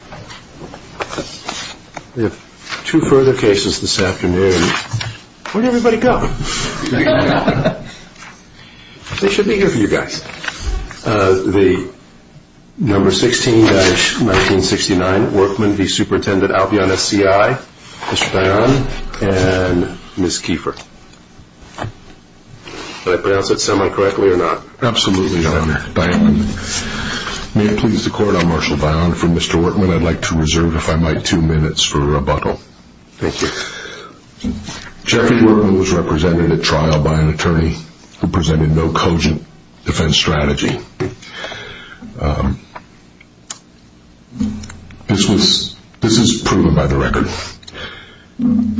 S.C.I., Mr. Dionne, and Ms. Kiefer. Did I pronounce that semi-correctly or not? Absolutely, Your Honor. Dionne. May it please the Court, I'll marshal Dionne from Mr. Workman v. Supt.Albion, for Mr. Kiefer. Mr. Workman, I'd like to reserve, if I might, two minutes for rebuttal. Thank you. Jeffrey Workman was represented at trial by an attorney who presented no cogent defense strategy. This is proven by the record.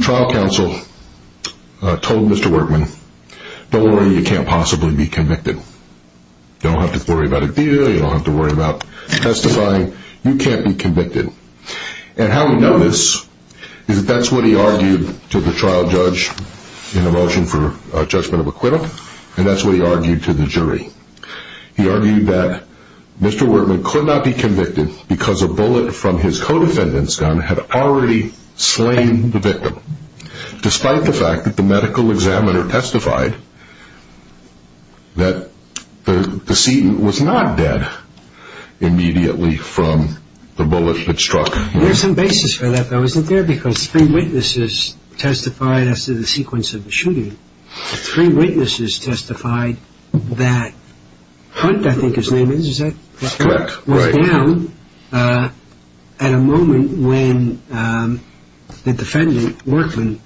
Trial counsel told Mr. Workman, don't worry, you can't possibly be convicted. Don't have to worry about a deal, you don't have to worry about testifying, you can't be convicted. And how we know this is that that's what he argued to the trial judge in the motion for judgment of acquittal, and that's what he argued to the jury. He argued that Mr. Workman could not be convicted because a bullet from his co-defendant's gun had already slain the victim. Despite the fact that the medical examiner testified that the decedent was not dead immediately from the bullet that struck him. There's some basis for that, though, isn't there? Because three witnesses testified after the sequence of the shooting. Three witnesses testified that Hunt, I think his name is, was down at a moment when the defendant, Workman,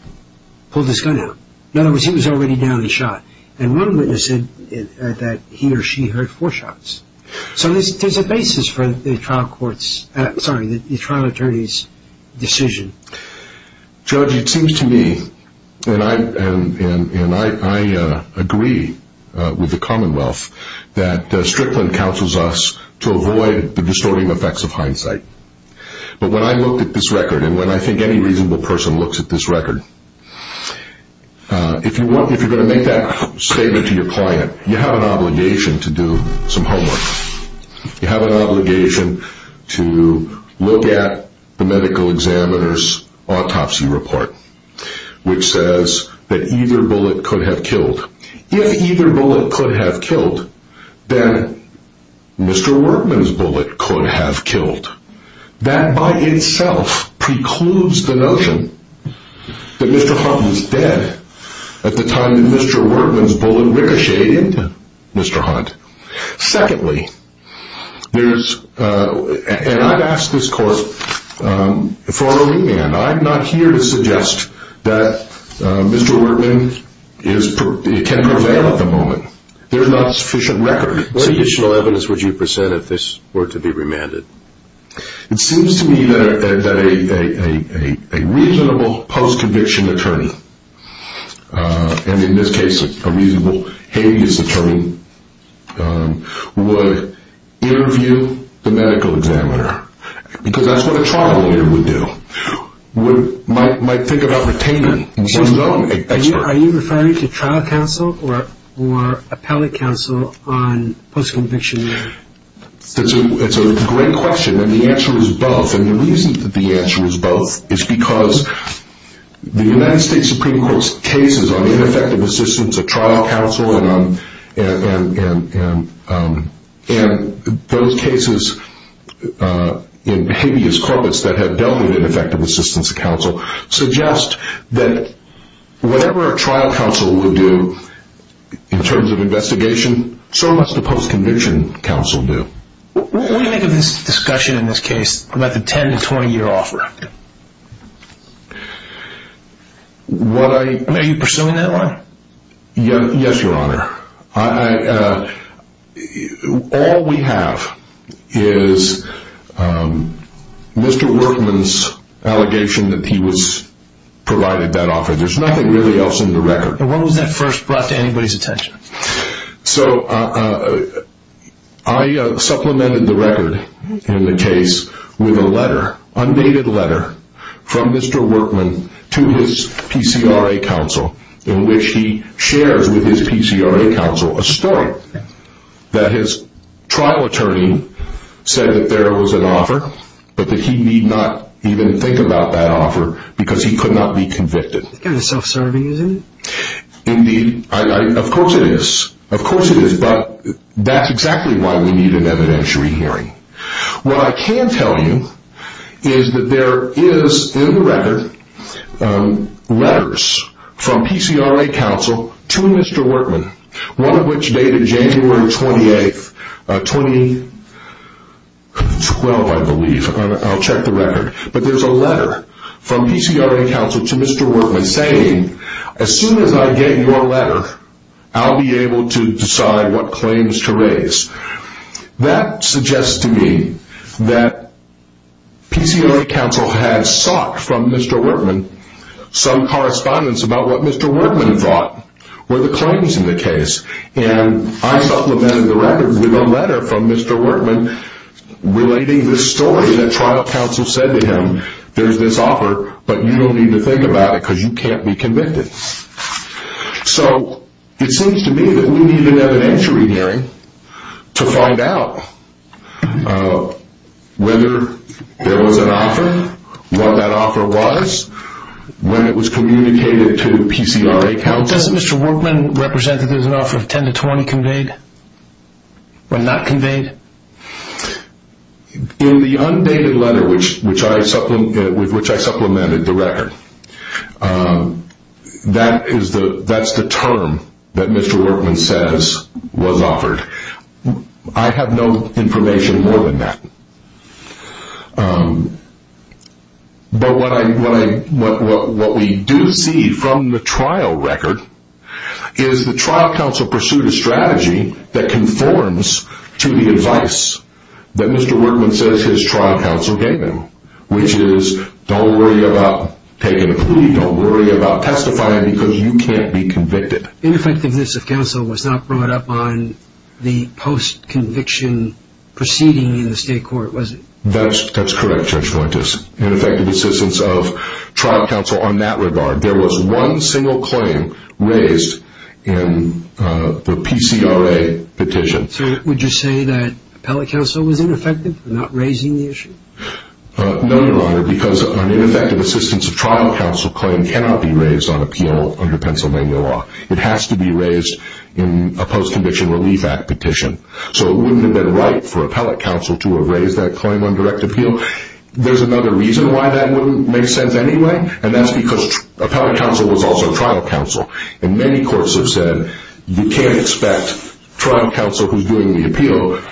pulled his gun out. In other words, he was already down and shot. And one witness said that he or she heard four shots. So there's a basis for the trial attorney's decision. Judge, it seems to me, and I agree with the Commonwealth, that Strickland counsels us to avoid the distorting effects of hindsight. But when I looked at this record, and when I think any reasonable person looks at this record, if you're going to make that statement to your client, you have an obligation to do some homework. You have an obligation to look at the medical examiner's autopsy report, which says that either bullet could have killed. If either bullet could have killed, then Mr. Workman's bullet could have killed. That by itself precludes the notion that Mr. Hunt was dead at the time that Mr. Workman's bullet ricocheted into Mr. Hunt. Secondly, and I've asked this court for a remand. I'm not here to suggest that Mr. Workman can prevail at the moment. There's not sufficient record. What additional evidence would you present if this were to be remanded? It seems to me that a reasonable post-conviction attorney, and in this case a reasonable habeas attorney, would interview the medical examiner. Because that's what a trial lawyer would do. Are you referring to trial counsel or appellate counsel on post-conviction? It's a great question, and the answer is both. The reason that the answer is both is because the United States Supreme Court's cases on ineffective assistance of trial counsel and those cases in habeas corpus that have dealt with ineffective assistance of counsel suggest that whatever a trial counsel would do in terms of investigation, so must a post-conviction counsel do. What do you make of this discussion in this case about the 10-20 year offer? Are you pursuing that one? Yes, Your Honor. All we have is Mr. Workman's allegation that he was provided that offer. There's nothing else in the record. I supplemented the record in the case with an undated letter from Mr. Workman to his PCRA counsel in which he shares with his PCRA counsel a story that his trial attorney said that there was an offer, but that he need not even think about that offer because he could not be convicted. Kind of self-serving, isn't it? Of course it is, but that's exactly why we need an evidentiary hearing. What I can tell you is that there is in the record letters from PCRA counsel to Mr. Workman, one of which dated January 28, 2012, I believe. I'll check the record. But there's a letter from PCRA counsel to Mr. Workman saying, as soon as I get your letter, I'll be able to decide what claims to raise. That suggests to me that PCRA counsel had sought from Mr. Workman some correspondence about what Mr. Workman thought were the claims in the case. I supplemented the record with a letter from Mr. Workman relating this story that trial counsel said to him. There's this offer, but you don't need to think about it because you can't be convicted. It seems to me that we need an evidentiary hearing to find out whether there was an offer, what that offer was, when it was communicated to PCRA counsel. Does Mr. Workman represent that there's an offer of 10 to 20 conveyed or not conveyed? In the undated letter with which I supplemented the record, that's the term that Mr. Workman says was offered. I have no information more than that. But what we do see from the trial record is the trial counsel pursued a strategy that conforms to the advice that Mr. Workman says his trial counsel gave him, which is don't worry about taking a plea, don't worry about testifying because you can't be convicted. Ineffectiveness of counsel was not brought up on the post-conviction proceeding in the state court, was it? That's correct, Judge Fuentes. Ineffective assistance of trial counsel on that regard. There was one single claim raised in the PCRA petition. So would you say that appellate counsel was ineffective for not raising the issue? No, Your Honor, because an ineffective assistance of trial counsel claim cannot be raised on appeal under Pennsylvania law. It has to be raised in a post-conviction relief act petition. So it wouldn't have been right for appellate counsel to have raised that claim on direct appeal. There's another reason why that wouldn't make sense anyway, and that's because appellate counsel was also trial counsel. And many courts have said you can't expect trial counsel who's doing the appeal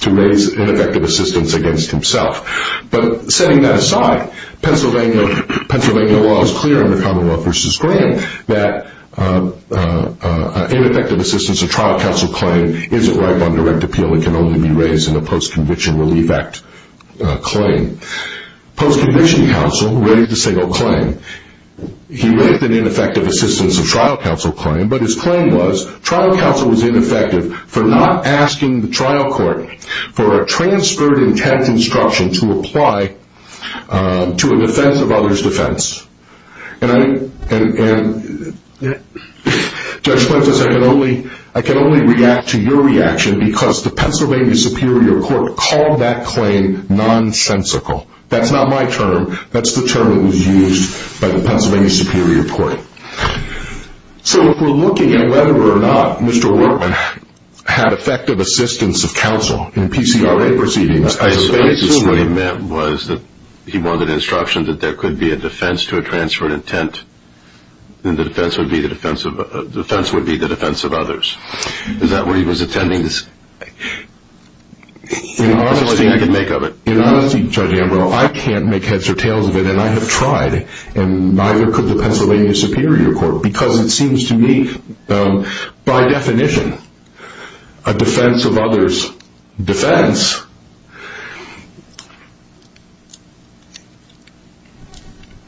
to raise ineffective assistance against himself. But setting that aside, Pennsylvania law is clear under Commonwealth v. Graham that an ineffective assistance of trial counsel claim isn't right on direct appeal and can only be raised in a post-conviction relief act claim. Post-conviction counsel raised a single claim. He raised an ineffective assistance of trial counsel claim, but his claim was trial counsel was ineffective for not asking the trial court for a transferred intent instruction to apply to a defense of others' defense. And Judge Prentiss, I can only react to your reaction because the Pennsylvania Superior Court called that claim nonsensical. That's not my term. That's the term that was used by the Pennsylvania Superior Court. So if we're looking at whether or not Mr. Workman had effective assistance of counsel in PCRA proceedings, I assume what he meant was that he wanted instructions that there could be a defense to a transferred intent and the defense would be the defense of others. Is that what he was intending? That's the only thing I can make of it. In honesty, Judge Ambrose, I can't make heads or tails of it, and I have tried, and neither could the Pennsylvania Superior Court because it seems to me, by definition, a defense of others' defense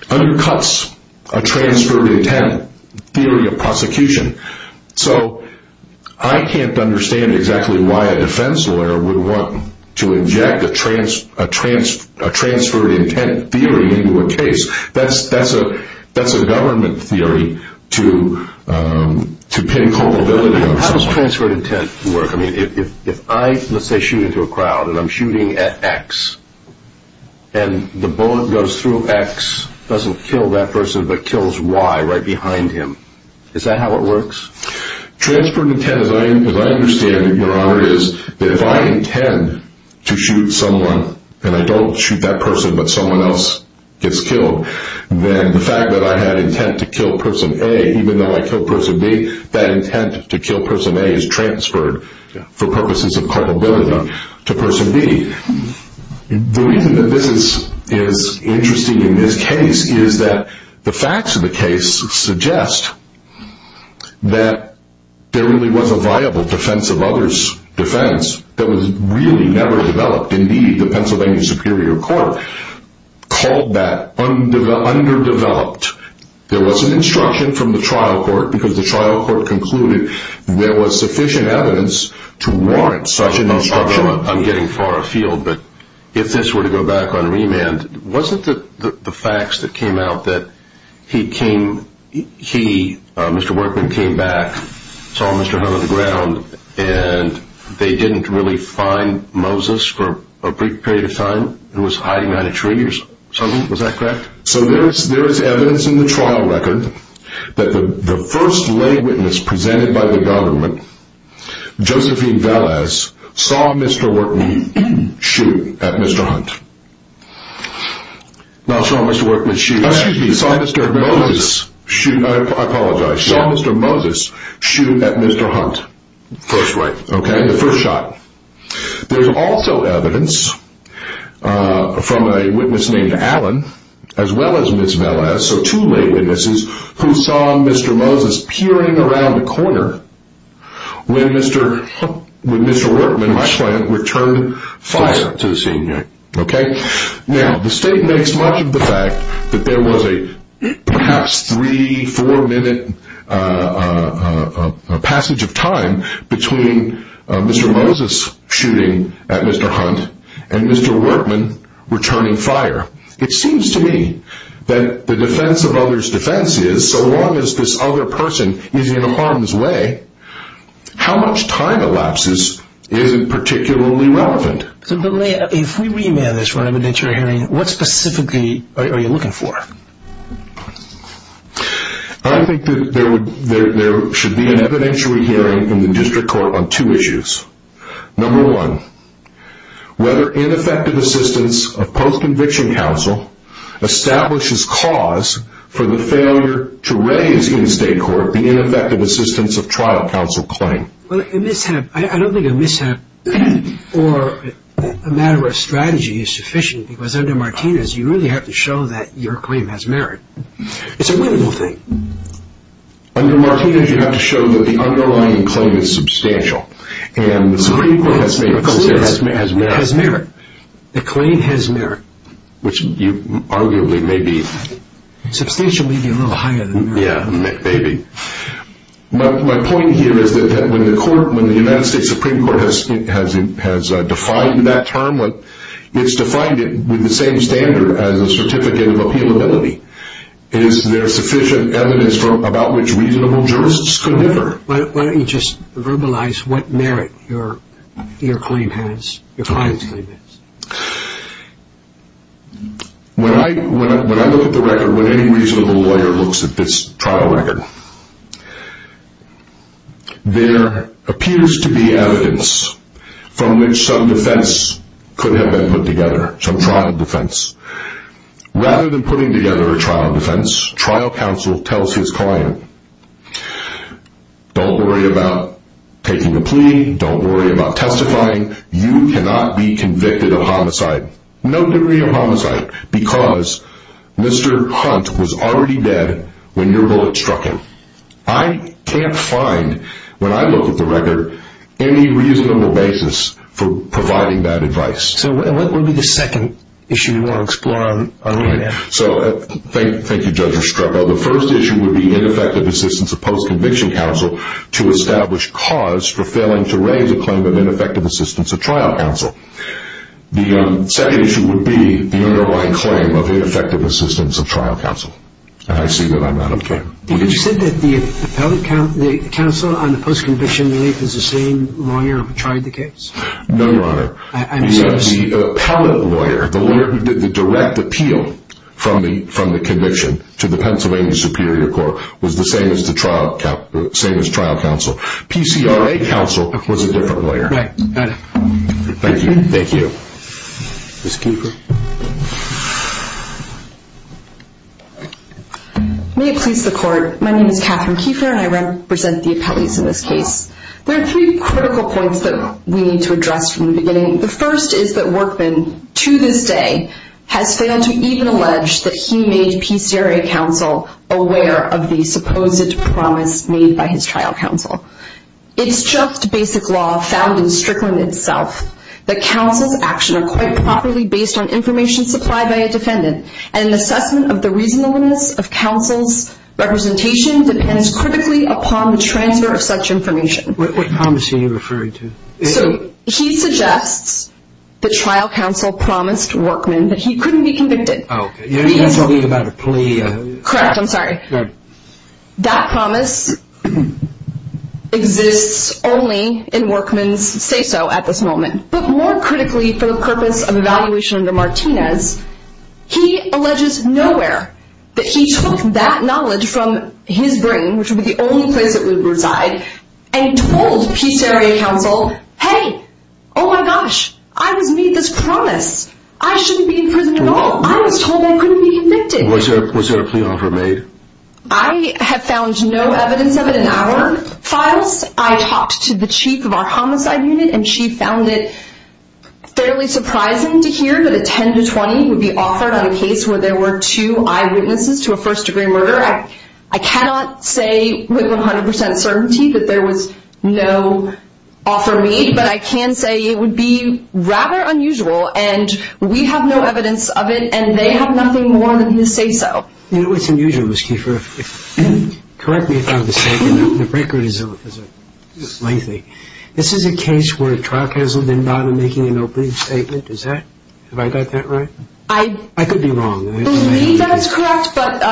undercuts a transferred intent theory of prosecution. So I can't understand exactly why a defense lawyer would want to inject a transferred intent theory into a case. That's a government theory to pin culpability on someone. How does transferred intent work? I mean, if I, let's say, shoot into a crowd and I'm shooting at X, and the bullet goes through X, doesn't kill that person, but kills Y right behind him, is that how it works? Transferred intent, as I understand it, Your Honor, is that if I intend to shoot someone and I don't shoot that person but someone else gets killed, then the fact that I had intent to kill person A even though I killed person B, that intent to kill person A is transferred for purposes of culpability to person B. The reason that this is interesting in this case is that the facts of the case suggest that there really was a viable defense of others' defense that was really never developed. Indeed, the Pennsylvania Superior Court called that underdeveloped. There was an instruction from the trial court because the trial court concluded there was sufficient evidence to warrant such an instruction. I'm getting far afield, but if this were to go back on remand, wasn't the facts that came out that he, Mr. Workman, came back, saw Mr. Hunt on the ground, and they didn't really find Moses for a brief period of time and was hiding behind a tree or something? Was that correct? So there is evidence in the trial record that the first lay witness presented by the government, Josephine Velez, saw Mr. Workman shoot at Mr. Hunt. Not saw Mr. Workman shoot at Mr. Hunt, saw Mr. Moses shoot at Mr. Hunt. First right. Okay, the first shot. There's also evidence from a witness named Allen, as well as Ms. Velez, so two lay witnesses who saw Mr. Moses peering around a corner when Mr. Workman returned fire to the senior. Now, the state makes much of the fact that there was a perhaps three, four minute passage of time between Mr. Moses shooting at Mr. Hunt and Mr. Workman returning fire. It seems to me that the defense of others' defense is, so long as this other person is in harm's way, how much time elapses isn't particularly relevant. If we remand this for an evidentiary hearing, what specifically are you looking for? I think that there should be an evidentiary hearing in the district court on two issues. Number one, whether ineffective assistance of post-conviction counsel establishes cause for the failure to raise in state court the ineffective assistance of trial counsel claim. Well, I don't think a mishap or a matter of strategy is sufficient, because under Martinez you really have to show that your claim has merit. It's a winnable thing. Under Martinez you have to show that the underlying claim is substantial. And the Supreme Court has made the claim has merit. The claim has merit. Which arguably may be... Substantial may be a little higher than merit. Yeah, maybe. My point here is that when the United States Supreme Court has defined that term, it's defined it with the same standard as a certificate of appealability. Is there sufficient evidence about which reasonable jurists could differ? Why don't you just verbalize what merit your claim has, your client's claim has. When I look at the record, when any reasonable lawyer looks at this trial record, there appears to be evidence from which some defense could have been put together, some trial defense. Rather than putting together a trial defense, trial counsel tells his client, don't worry about taking the plea, don't worry about testifying, you cannot be convicted of homicide. No degree of homicide. Because Mr. Hunt was already dead when your bullet struck him. I can't find, when I look at the record, any reasonable basis for providing that advice. So what would be the second issue you want to explore on your end? Thank you, Judge Estrepo. The first issue would be ineffective assistance of post-conviction counsel to establish cause for failing to raise a claim of ineffective assistance of trial counsel. The second issue would be the underlying claim of ineffective assistance of trial counsel. And I see that I'm out of time. Did you say that the appellate counsel on the post-conviction relief is the same lawyer who tried the case? No, Your Honor. The appellate lawyer, the direct appeal from the conviction to the Pennsylvania Superior Court was the same as trial counsel. PCRA counsel was a different lawyer. Right. Got it. Thank you. Thank you. Ms. Keefer. May it please the Court, my name is Catherine Keefer and I represent the appellees in this case. There are three critical points that we need to address from the beginning. The first is that Workman, to this day, has failed to even allege that he made PCRA counsel aware of the supposed promise made by his trial counsel. It's just basic law found in Strickland itself, that counsel's actions are quite properly based on information supplied by a defendant and an assessment of the reasonableness of counsel's representation depends critically upon the transfer of such information. What promise are you referring to? So, he suggests that trial counsel promised Workman that he couldn't be convicted. You're talking about a plea? Correct, I'm sorry. Good. That promise exists only in Workman's say-so at this moment. But more critically, for the purpose of evaluation under Martinez, he alleges nowhere that he took that knowledge from his brain, which would be the only place it would reside, and told PCRA counsel, hey, oh my gosh, I was made this promise. I shouldn't be in prison at all. I was told I couldn't be convicted. Was there a plea offer made? I have found no evidence of it in our files. I talked to the chief of our homicide unit and she found it fairly surprising to hear that a 10 to 20 would be offered on a case where there were two eyewitnesses to a first-degree murder. Correct. I cannot say with 100% certainty that there was no offer made, but I can say it would be rather unusual, and we have no evidence of it and they have nothing more than the say-so. You know what's unusual, Ms. Kiefer? Correct me if I'm mistaken. The record is lengthy. This is a case where a trial counsel did not make an opening statement. Is that, have I got that right? I could be wrong. I believe that is correct, but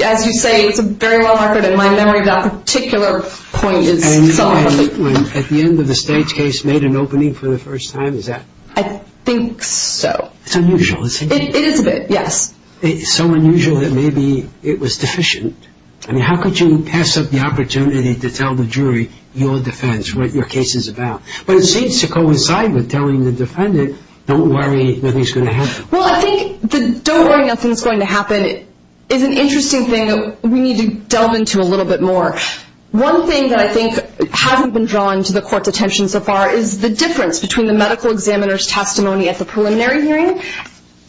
as you say, it's a very long record, and my memory of that particular point is solid. And when, at the end of the stage case, made an opening for the first time, is that? I think so. It's unusual, isn't it? It is a bit, yes. It's so unusual that maybe it was deficient. I mean, how could you pass up the opportunity to tell the jury your defense, what your case is about? But it seems to coincide with telling the defendant, don't worry, nothing's going to happen. Well, I think the don't worry, nothing's going to happen is an interesting thing that we need to delve into a little bit more. One thing that I think hasn't been drawn to the court's attention so far is the difference between the medical examiner's testimony at the preliminary hearing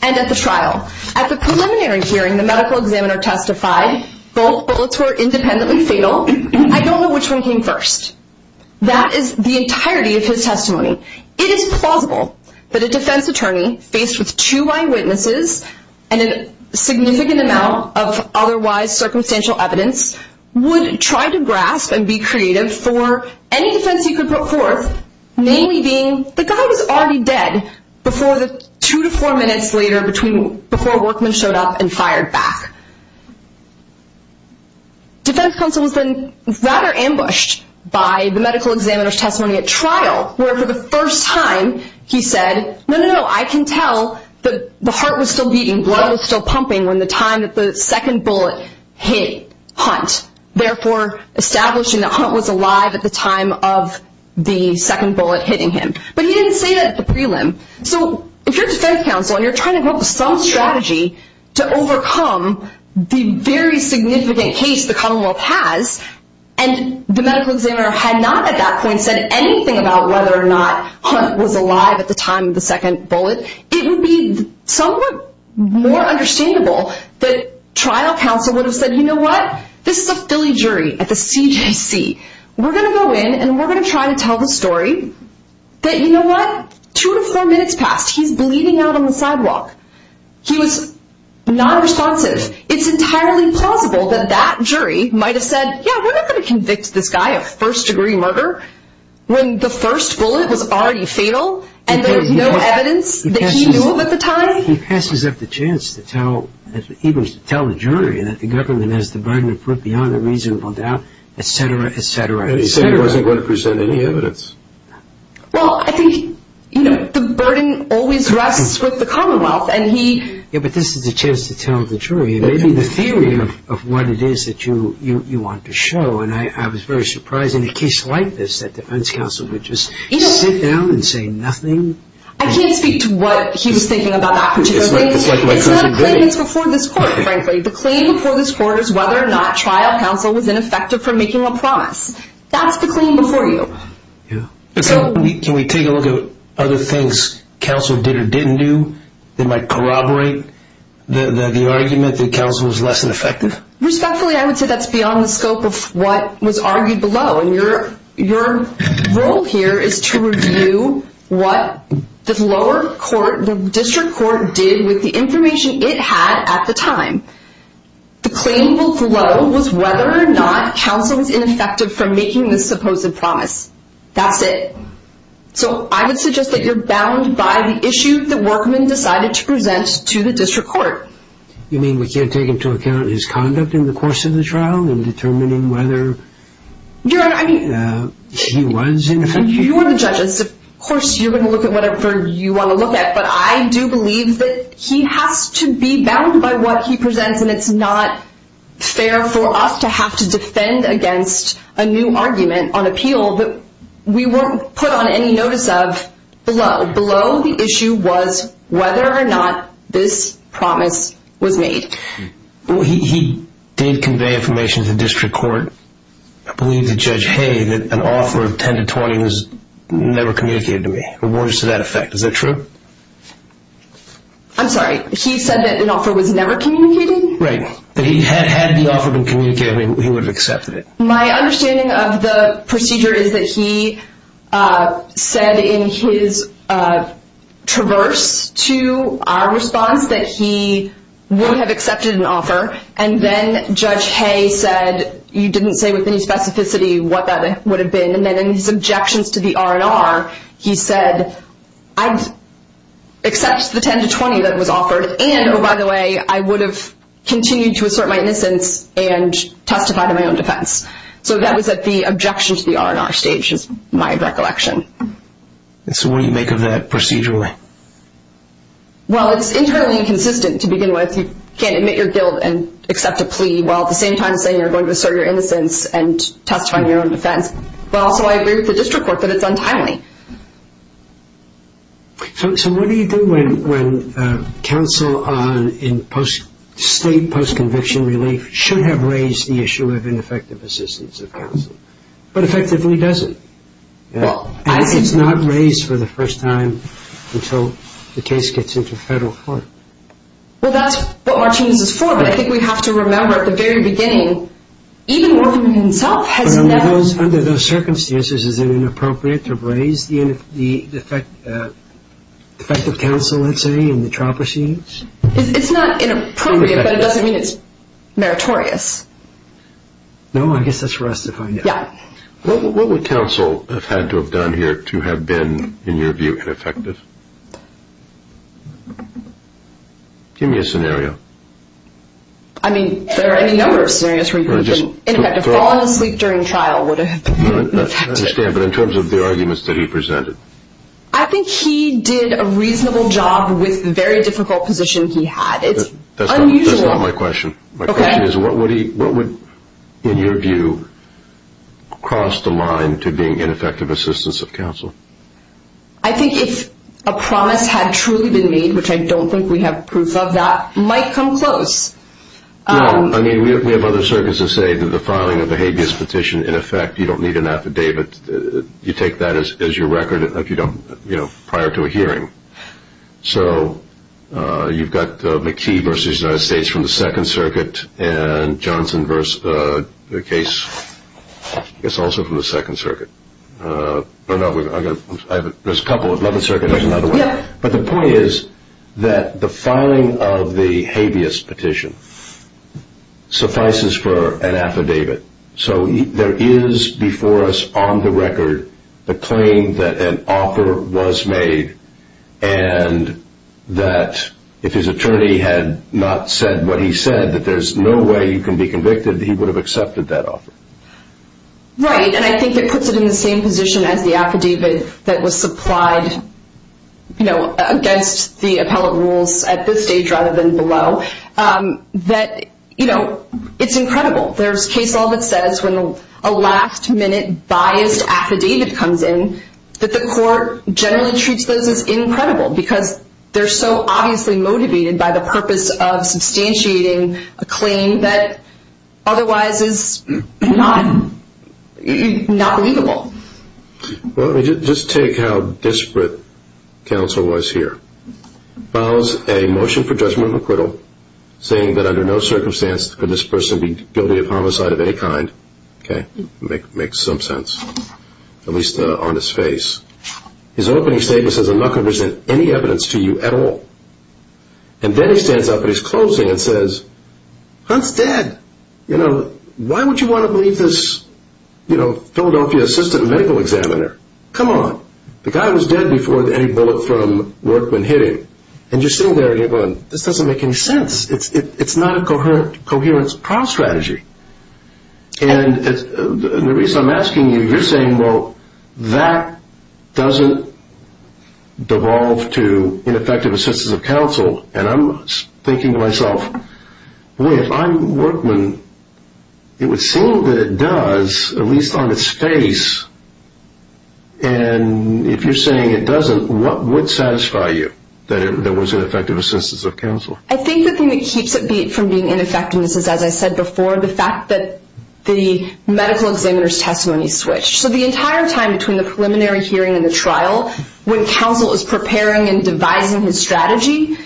and at the trial. At the preliminary hearing, the medical examiner testified, both bullets were independently fatal. I don't know which one came first. That is the entirety of his testimony. It is plausible that a defense attorney, faced with two eyewitnesses and a significant amount of otherwise circumstantial evidence, would try to grasp and be creative for any defense he could put forth, namely being the guy was already dead two to four minutes later before Workman showed up and fired back. Defense counsel has been rather ambushed by the medical examiner's testimony at trial, where for the first time he said, no, no, no, I can tell the heart was still beating, blood was still pumping when the time that the second bullet hit Hunt, therefore establishing that Hunt was alive at the time of the second bullet hitting him. But he didn't say that at the prelim. So if you're defense counsel and you're trying to come up with some strategy to overcome the very significant case the Commonwealth has, and the medical examiner had not at that point said anything about whether or not Hunt was alive at the time of the second bullet, it would be somewhat more understandable that trial counsel would have said, you know what, this is a Philly jury at the CJC. We're going to go in and we're going to try to tell the story that, you know what, two to four minutes passed. He's bleeding out on the sidewalk. He was nonresponsive. It's entirely plausible that that jury might have said, yeah, we're not going to convict this guy of first-degree murder when the first bullet was already fatal and there was no evidence that he knew of at the time. He passes up the chance to tell the jury that the government has the burden to put beyond a reasonable doubt, et cetera, et cetera. He said he wasn't going to present any evidence. Well, I think, you know, the burden always rests with the Commonwealth. Yeah, but this is a chance to tell the jury maybe the theory of what it is that you want to show, and I was very surprised in a case like this that defense counsel would just sit down and say nothing. I can't speak to what he was thinking about that particular thing. It's not a claim that's before this court, frankly. The claim before this court is whether or not trial counsel was ineffective for making a promise. That's the claim before you. Can we take a look at other things counsel did or didn't do that might corroborate the argument that counsel was less than effective? Respectfully, I would say that's beyond the scope of what was argued below, and your role here is to review what the lower court, the district court, did with the information it had at the time. The claim below was whether or not counsel was ineffective for making this supposed promise. That's it. So I would suggest that you're bound by the issue that Workman decided to present to the district court. You mean we can't take into account his conduct in the course of the trial in determining whether he was ineffective? You're the judge. Of course, you're going to look at whatever you want to look at, but I do believe that he has to be bound by what he presents, and it's not fair for us to have to defend against a new argument on appeal that we weren't put on any notice of below. Below the issue was whether or not this promise was made. He did convey information to the district court, I believe to Judge Hay, that an offer of 10 to 20 was never communicated to me, or words to that effect. Is that true? I'm sorry. He said that an offer was never communicated? Right. That he had the offer been communicated, he would have accepted it. My understanding of the procedure is that he said in his traverse to our response that he would have accepted an offer, and then Judge Hay said, you didn't say with any specificity what that would have been, and then in his objections to the R&R, he said, I've accepted the 10 to 20 that was offered, and, oh, by the way, I would have continued to assert my innocence and testified in my own defense. So that was at the objection to the R&R stage is my recollection. So what do you make of that procedurally? Well, it's internally inconsistent to begin with. You can't admit your guilt and accept a plea while at the same time saying you're going to assert your innocence and testify in your own defense. But also I agree with the district court that it's untimely. So what do you do when counsel in state post-conviction relief should have raised the issue of ineffective assistance of counsel, but effectively doesn't? It's not raised for the first time until the case gets into federal court. Well, that's what Martinez is for, but I think we have to remember at the very beginning, even working with himself has never been... Under those circumstances, is it inappropriate to raise the effect of counsel, let's say, in the trial proceedings? It's not inappropriate, but it doesn't mean it's meritorious. No, I guess that's for us to find out. Yeah. What would counsel have had to have done here to have been, in your view, ineffective? Give me a scenario. I mean, there are any number of scenarios where he could have been ineffective. Falling asleep during trial would have been ineffective. I understand, but in terms of the arguments that he presented? I think he did a reasonable job with the very difficult position he had. It's unusual. That's not my question. Okay. My question is, what would, in your view, cross the line to being ineffective assistance of counsel? I think if a promise had truly been made, which I don't think we have proof of, that might come close. I mean, we have other circuits that say that the filing of a habeas petition, in effect, you don't need an affidavit. You take that as your record prior to a hearing. So you've got McKee v. United States from the Second Circuit and Johnson v. the case, I guess, also from the Second Circuit. There's a couple. 11th Circuit is another one. But the point is that the filing of the habeas petition suffices for an affidavit. So there is before us on the record the claim that an offer was made and that if his attorney had not said what he said, that there's no way you can be convicted, he would have accepted that offer. Right. And I think it puts it in the same position as the affidavit that was supplied, you know, against the appellate rules at this stage rather than below, that, you know, it's incredible. There's case law that says when a last-minute biased affidavit comes in that the court generally treats those as incredible because they're so obviously motivated by the purpose of substantiating a claim that otherwise is not legal. Well, let me just take how disparate counsel was here. Files a motion for judgment of acquittal saying that under no circumstance could this person be guilty of homicide of any kind. Okay. Makes some sense, at least on his face. His opening statement says, I'm not going to present any evidence to you at all. And then he stands up at his closing and says, Hunt's dead. You know, why would you want to believe this, you know, Philadelphia assistant medical examiner? Come on. The guy was dead before any bullet from Workman hit him. And you're sitting there and you're going, this doesn't make any sense. It's not a coherence trial strategy. And the reason I'm asking you, you're saying, well, that doesn't devolve to ineffective assistance of counsel. And I'm thinking to myself, if I'm Workman, it would seem that it does, at least on his face. And if you're saying it doesn't, what would satisfy you, that it was ineffective assistance of counsel? I think the thing that keeps it from being ineffective, and this is as I said before, the fact that the medical examiner's testimony switched. So the entire time between the preliminary hearing and the trial, when counsel is preparing and devising his strategy,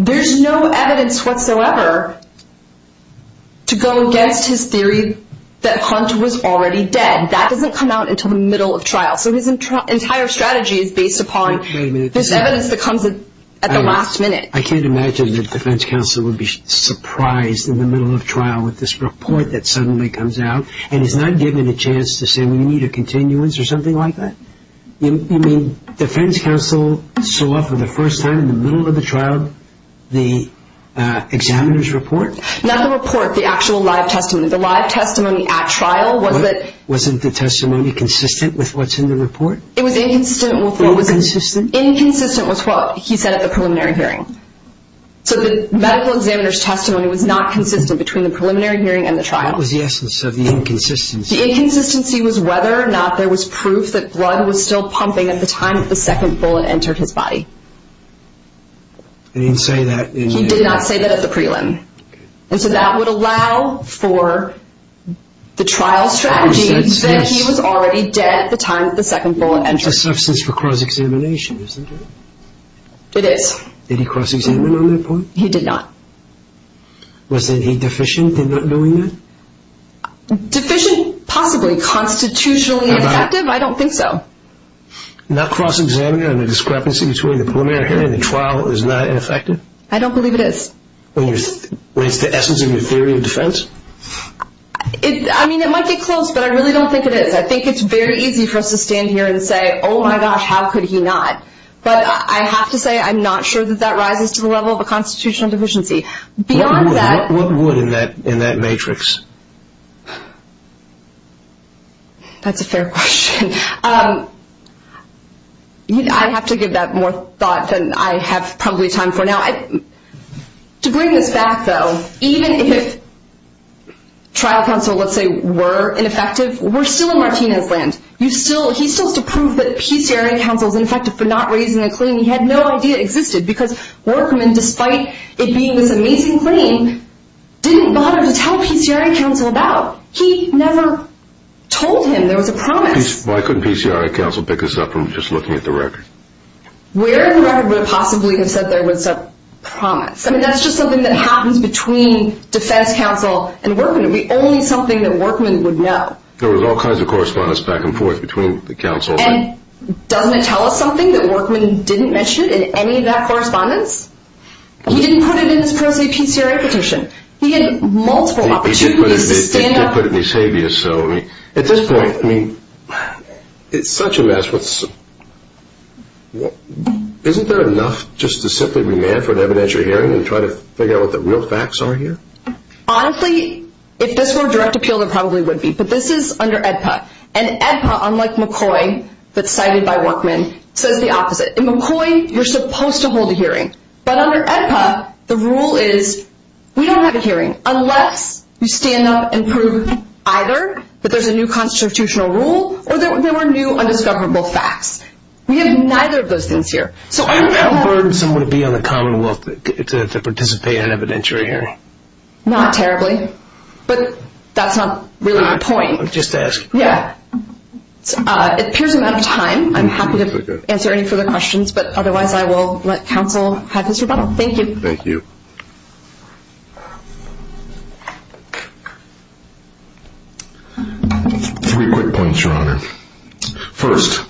there's no evidence whatsoever to go against his theory that Hunt was already dead. That doesn't come out until the middle of trial. So his entire strategy is based upon this evidence that comes at the last minute. I can't imagine that defense counsel would be surprised in the middle of trial with this report that suddenly comes out and is not given a chance to say, well, you need a continuance or something like that. You mean defense counsel saw up for the first time in the middle of the trial the examiner's report? Not the report, the actual live testimony. The live testimony at trial was that. Wasn't the testimony consistent with what's in the report? It was inconsistent with what he said at the preliminary hearing. So the medical examiner's testimony was not consistent between the preliminary hearing and the trial. So that was the essence of the inconsistency. The inconsistency was whether or not there was proof that blood was still pumping at the time the second bullet entered his body. He didn't say that in the... He did not say that at the prelim. And so that would allow for the trial strategy that he was already dead at the time the second bullet entered. It's a substance for cross-examination, isn't it? It is. Did he cross-examine on that point? He did not. Was he deficient in not doing that? Deficient? Possibly. Constitutionally ineffective? I don't think so. Not cross-examining on the discrepancy between the preliminary hearing and the trial is not ineffective? I don't believe it is. When it's the essence of your theory of defense? I mean, it might get close, but I really don't think it is. I think it's very easy for us to stand here and say, oh, my gosh, how could he not? But I have to say I'm not sure that that rises to the level of a constitutional deficiency. Beyond that... What would in that matrix? That's a fair question. I have to give that more thought than I have probably time for now. To bring this back, though, even if trial counsel, let's say, were ineffective, we're still in Martinez's land. He still has to prove that PCRI counsel is ineffective for not raising a claim he had no idea existed because Workman, despite it being this amazing claim, didn't bother to tell PCRI counsel about it. He never told him there was a promise. Why couldn't PCRI counsel pick this up from just looking at the record? Where in the record would it possibly have said there was a promise? I mean, that's just something that happens between defense counsel and Workman. It would be only something that Workman would know. There was all kinds of correspondence back and forth between the counsel. And doesn't it tell us something that Workman didn't mention in any of that correspondence? He didn't put it in his pro se PCRI petition. He had multiple opportunities to stand up. He did put it in his habeas. At this point, I mean, it's such a mess. Isn't there enough just to simply remand for an evidentiary hearing and try to figure out what the real facts are here? Honestly, if this were a direct appeal, there probably would be. But this is under AEDPA. And AEDPA, unlike McCoy, that's cited by Workman, says the opposite. In McCoy, you're supposed to hold a hearing. But under AEDPA, the rule is we don't have a hearing unless you stand up and prove either that there's a new constitutional rule or there were new undiscoverable facts. We have neither of those things here. So how burdensome would it be on the Commonwealth to participate in an evidentiary hearing? Not terribly. But that's not really my point. Just ask. Yeah. It appears I'm out of time. I'm happy to answer any further questions. But otherwise, I will let counsel have his rebuttal. Thank you. Thank you. Three quick points, Your Honor. First,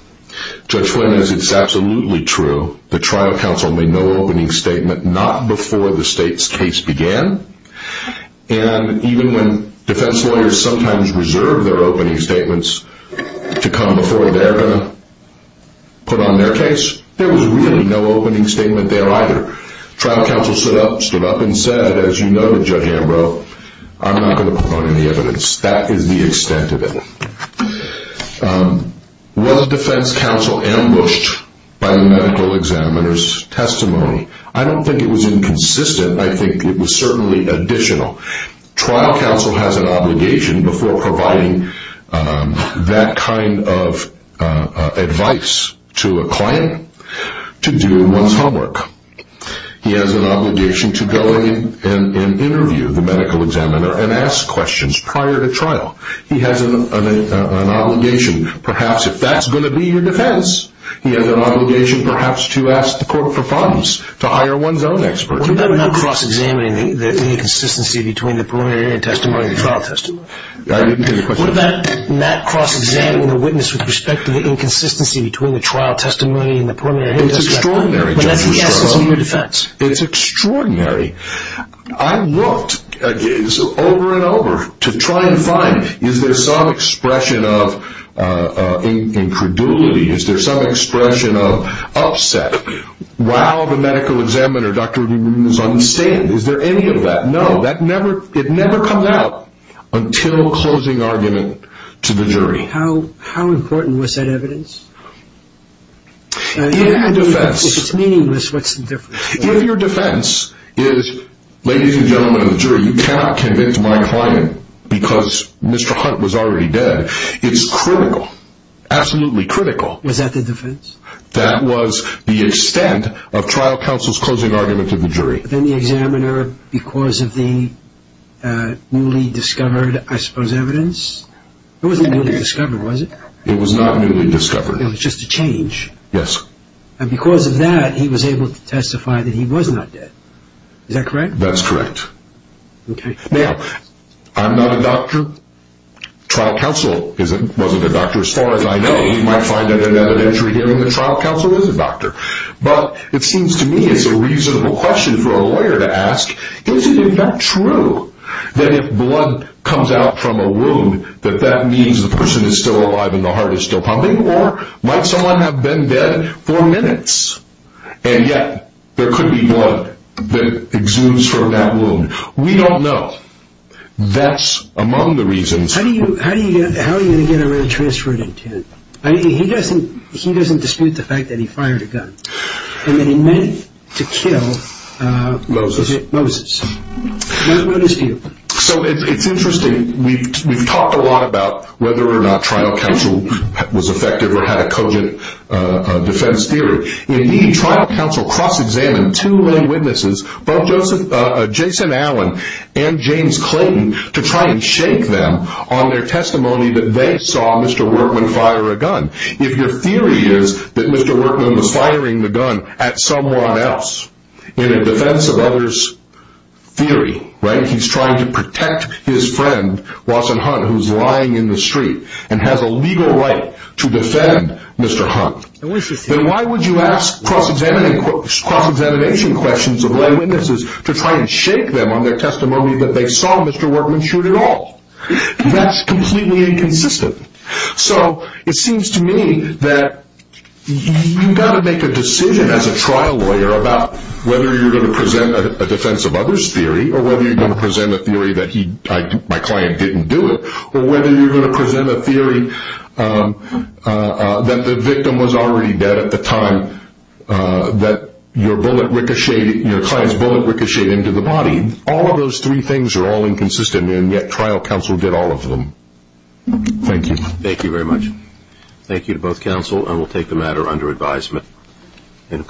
Judge Flynn, as it's absolutely true, the trial counsel made no opening statement, not before the state's case began. And even when defense lawyers sometimes reserve their opening statements to come before they're going to put on their case, there was really no opening statement there either. Trial counsel stood up and said, as you know, Judge Ambrose, I'm not going to put on any evidence. That is the extent of it. Was defense counsel ambushed by the medical examiner's testimony? I don't think it was inconsistent. I think it was certainly additional. Trial counsel has an obligation before providing that kind of advice to a client to do one's homework. He has an obligation to go in and interview the medical examiner and ask questions prior to trial. He has an obligation, perhaps, if that's going to be your defense, he has an obligation perhaps to ask the court for funds to hire one's own expert. What about not cross-examining the inconsistency between the preliminary testimony and the trial testimony? I didn't hear the question. What about not cross-examining the witness with respect to the inconsistency between the trial testimony and the preliminary testimony? It's extraordinary. But that's the essence of your defense. It's extraordinary. I looked over and over to try and find, is there some expression of incredulity? Is there some expression of upset? Wow, the medical examiner, Dr. Rubin, is on the stand. Is there any of that? No. It never comes out until closing argument to the jury. How important was that evidence? If it's meaningless, what's the difference? If your defense is, ladies and gentlemen of the jury, you cannot convict my client because Mr. Hunt was already dead, it's critical, absolutely critical. Was that the defense? That was the extent of trial counsel's closing argument to the jury. Then the examiner, because of the newly discovered, I suppose, evidence? It wasn't newly discovered, was it? It was not newly discovered. It was just a change? Yes. And because of that, he was able to testify that he was not dead. Is that correct? That's correct. Okay. Now, I'm not a doctor. Trial counsel wasn't a doctor as far as I know. You might find that in an inventory hearing that trial counsel is a doctor. But it seems to me it's a reasonable question for a lawyer to ask, is it, in fact, true that if blood comes out from a wound, that that means the person is still alive and the heart is still pumping? Or might someone have been dead for minutes, and yet there could be blood that exudes from that wound? We don't know. That's among the reasons. How are you going to get a red transferred intent? And then he meant to kill Moses. So it's interesting. We've talked a lot about whether or not trial counsel was effective or had a cogent defense theory. Indeed, trial counsel cross-examined two lay witnesses, both Jason Allen and James Clayton, to try and shake them on their testimony that they saw Mr. Workman fire a gun. If your theory is that Mr. Workman was firing the gun at someone else in a defense of others' theory, he's trying to protect his friend, Watson Hunt, who's lying in the street and has a legal right to defend Mr. Hunt, then why would you ask cross-examination questions of lay witnesses to try and shake them on their testimony that they saw Mr. Workman shoot at all? That's completely inconsistent. So it seems to me that you've got to make a decision as a trial lawyer about whether you're going to present a defense of others' theory or whether you're going to present a theory that my client didn't do it or whether you're going to present a theory that the victim was already dead at the time that your client's bullet ricocheted into the body. All of those three things are all inconsistent, and yet trial counsel did all of them. Thank you. Thank you very much. Thank you to both counsel, and we'll take the matter under advisement.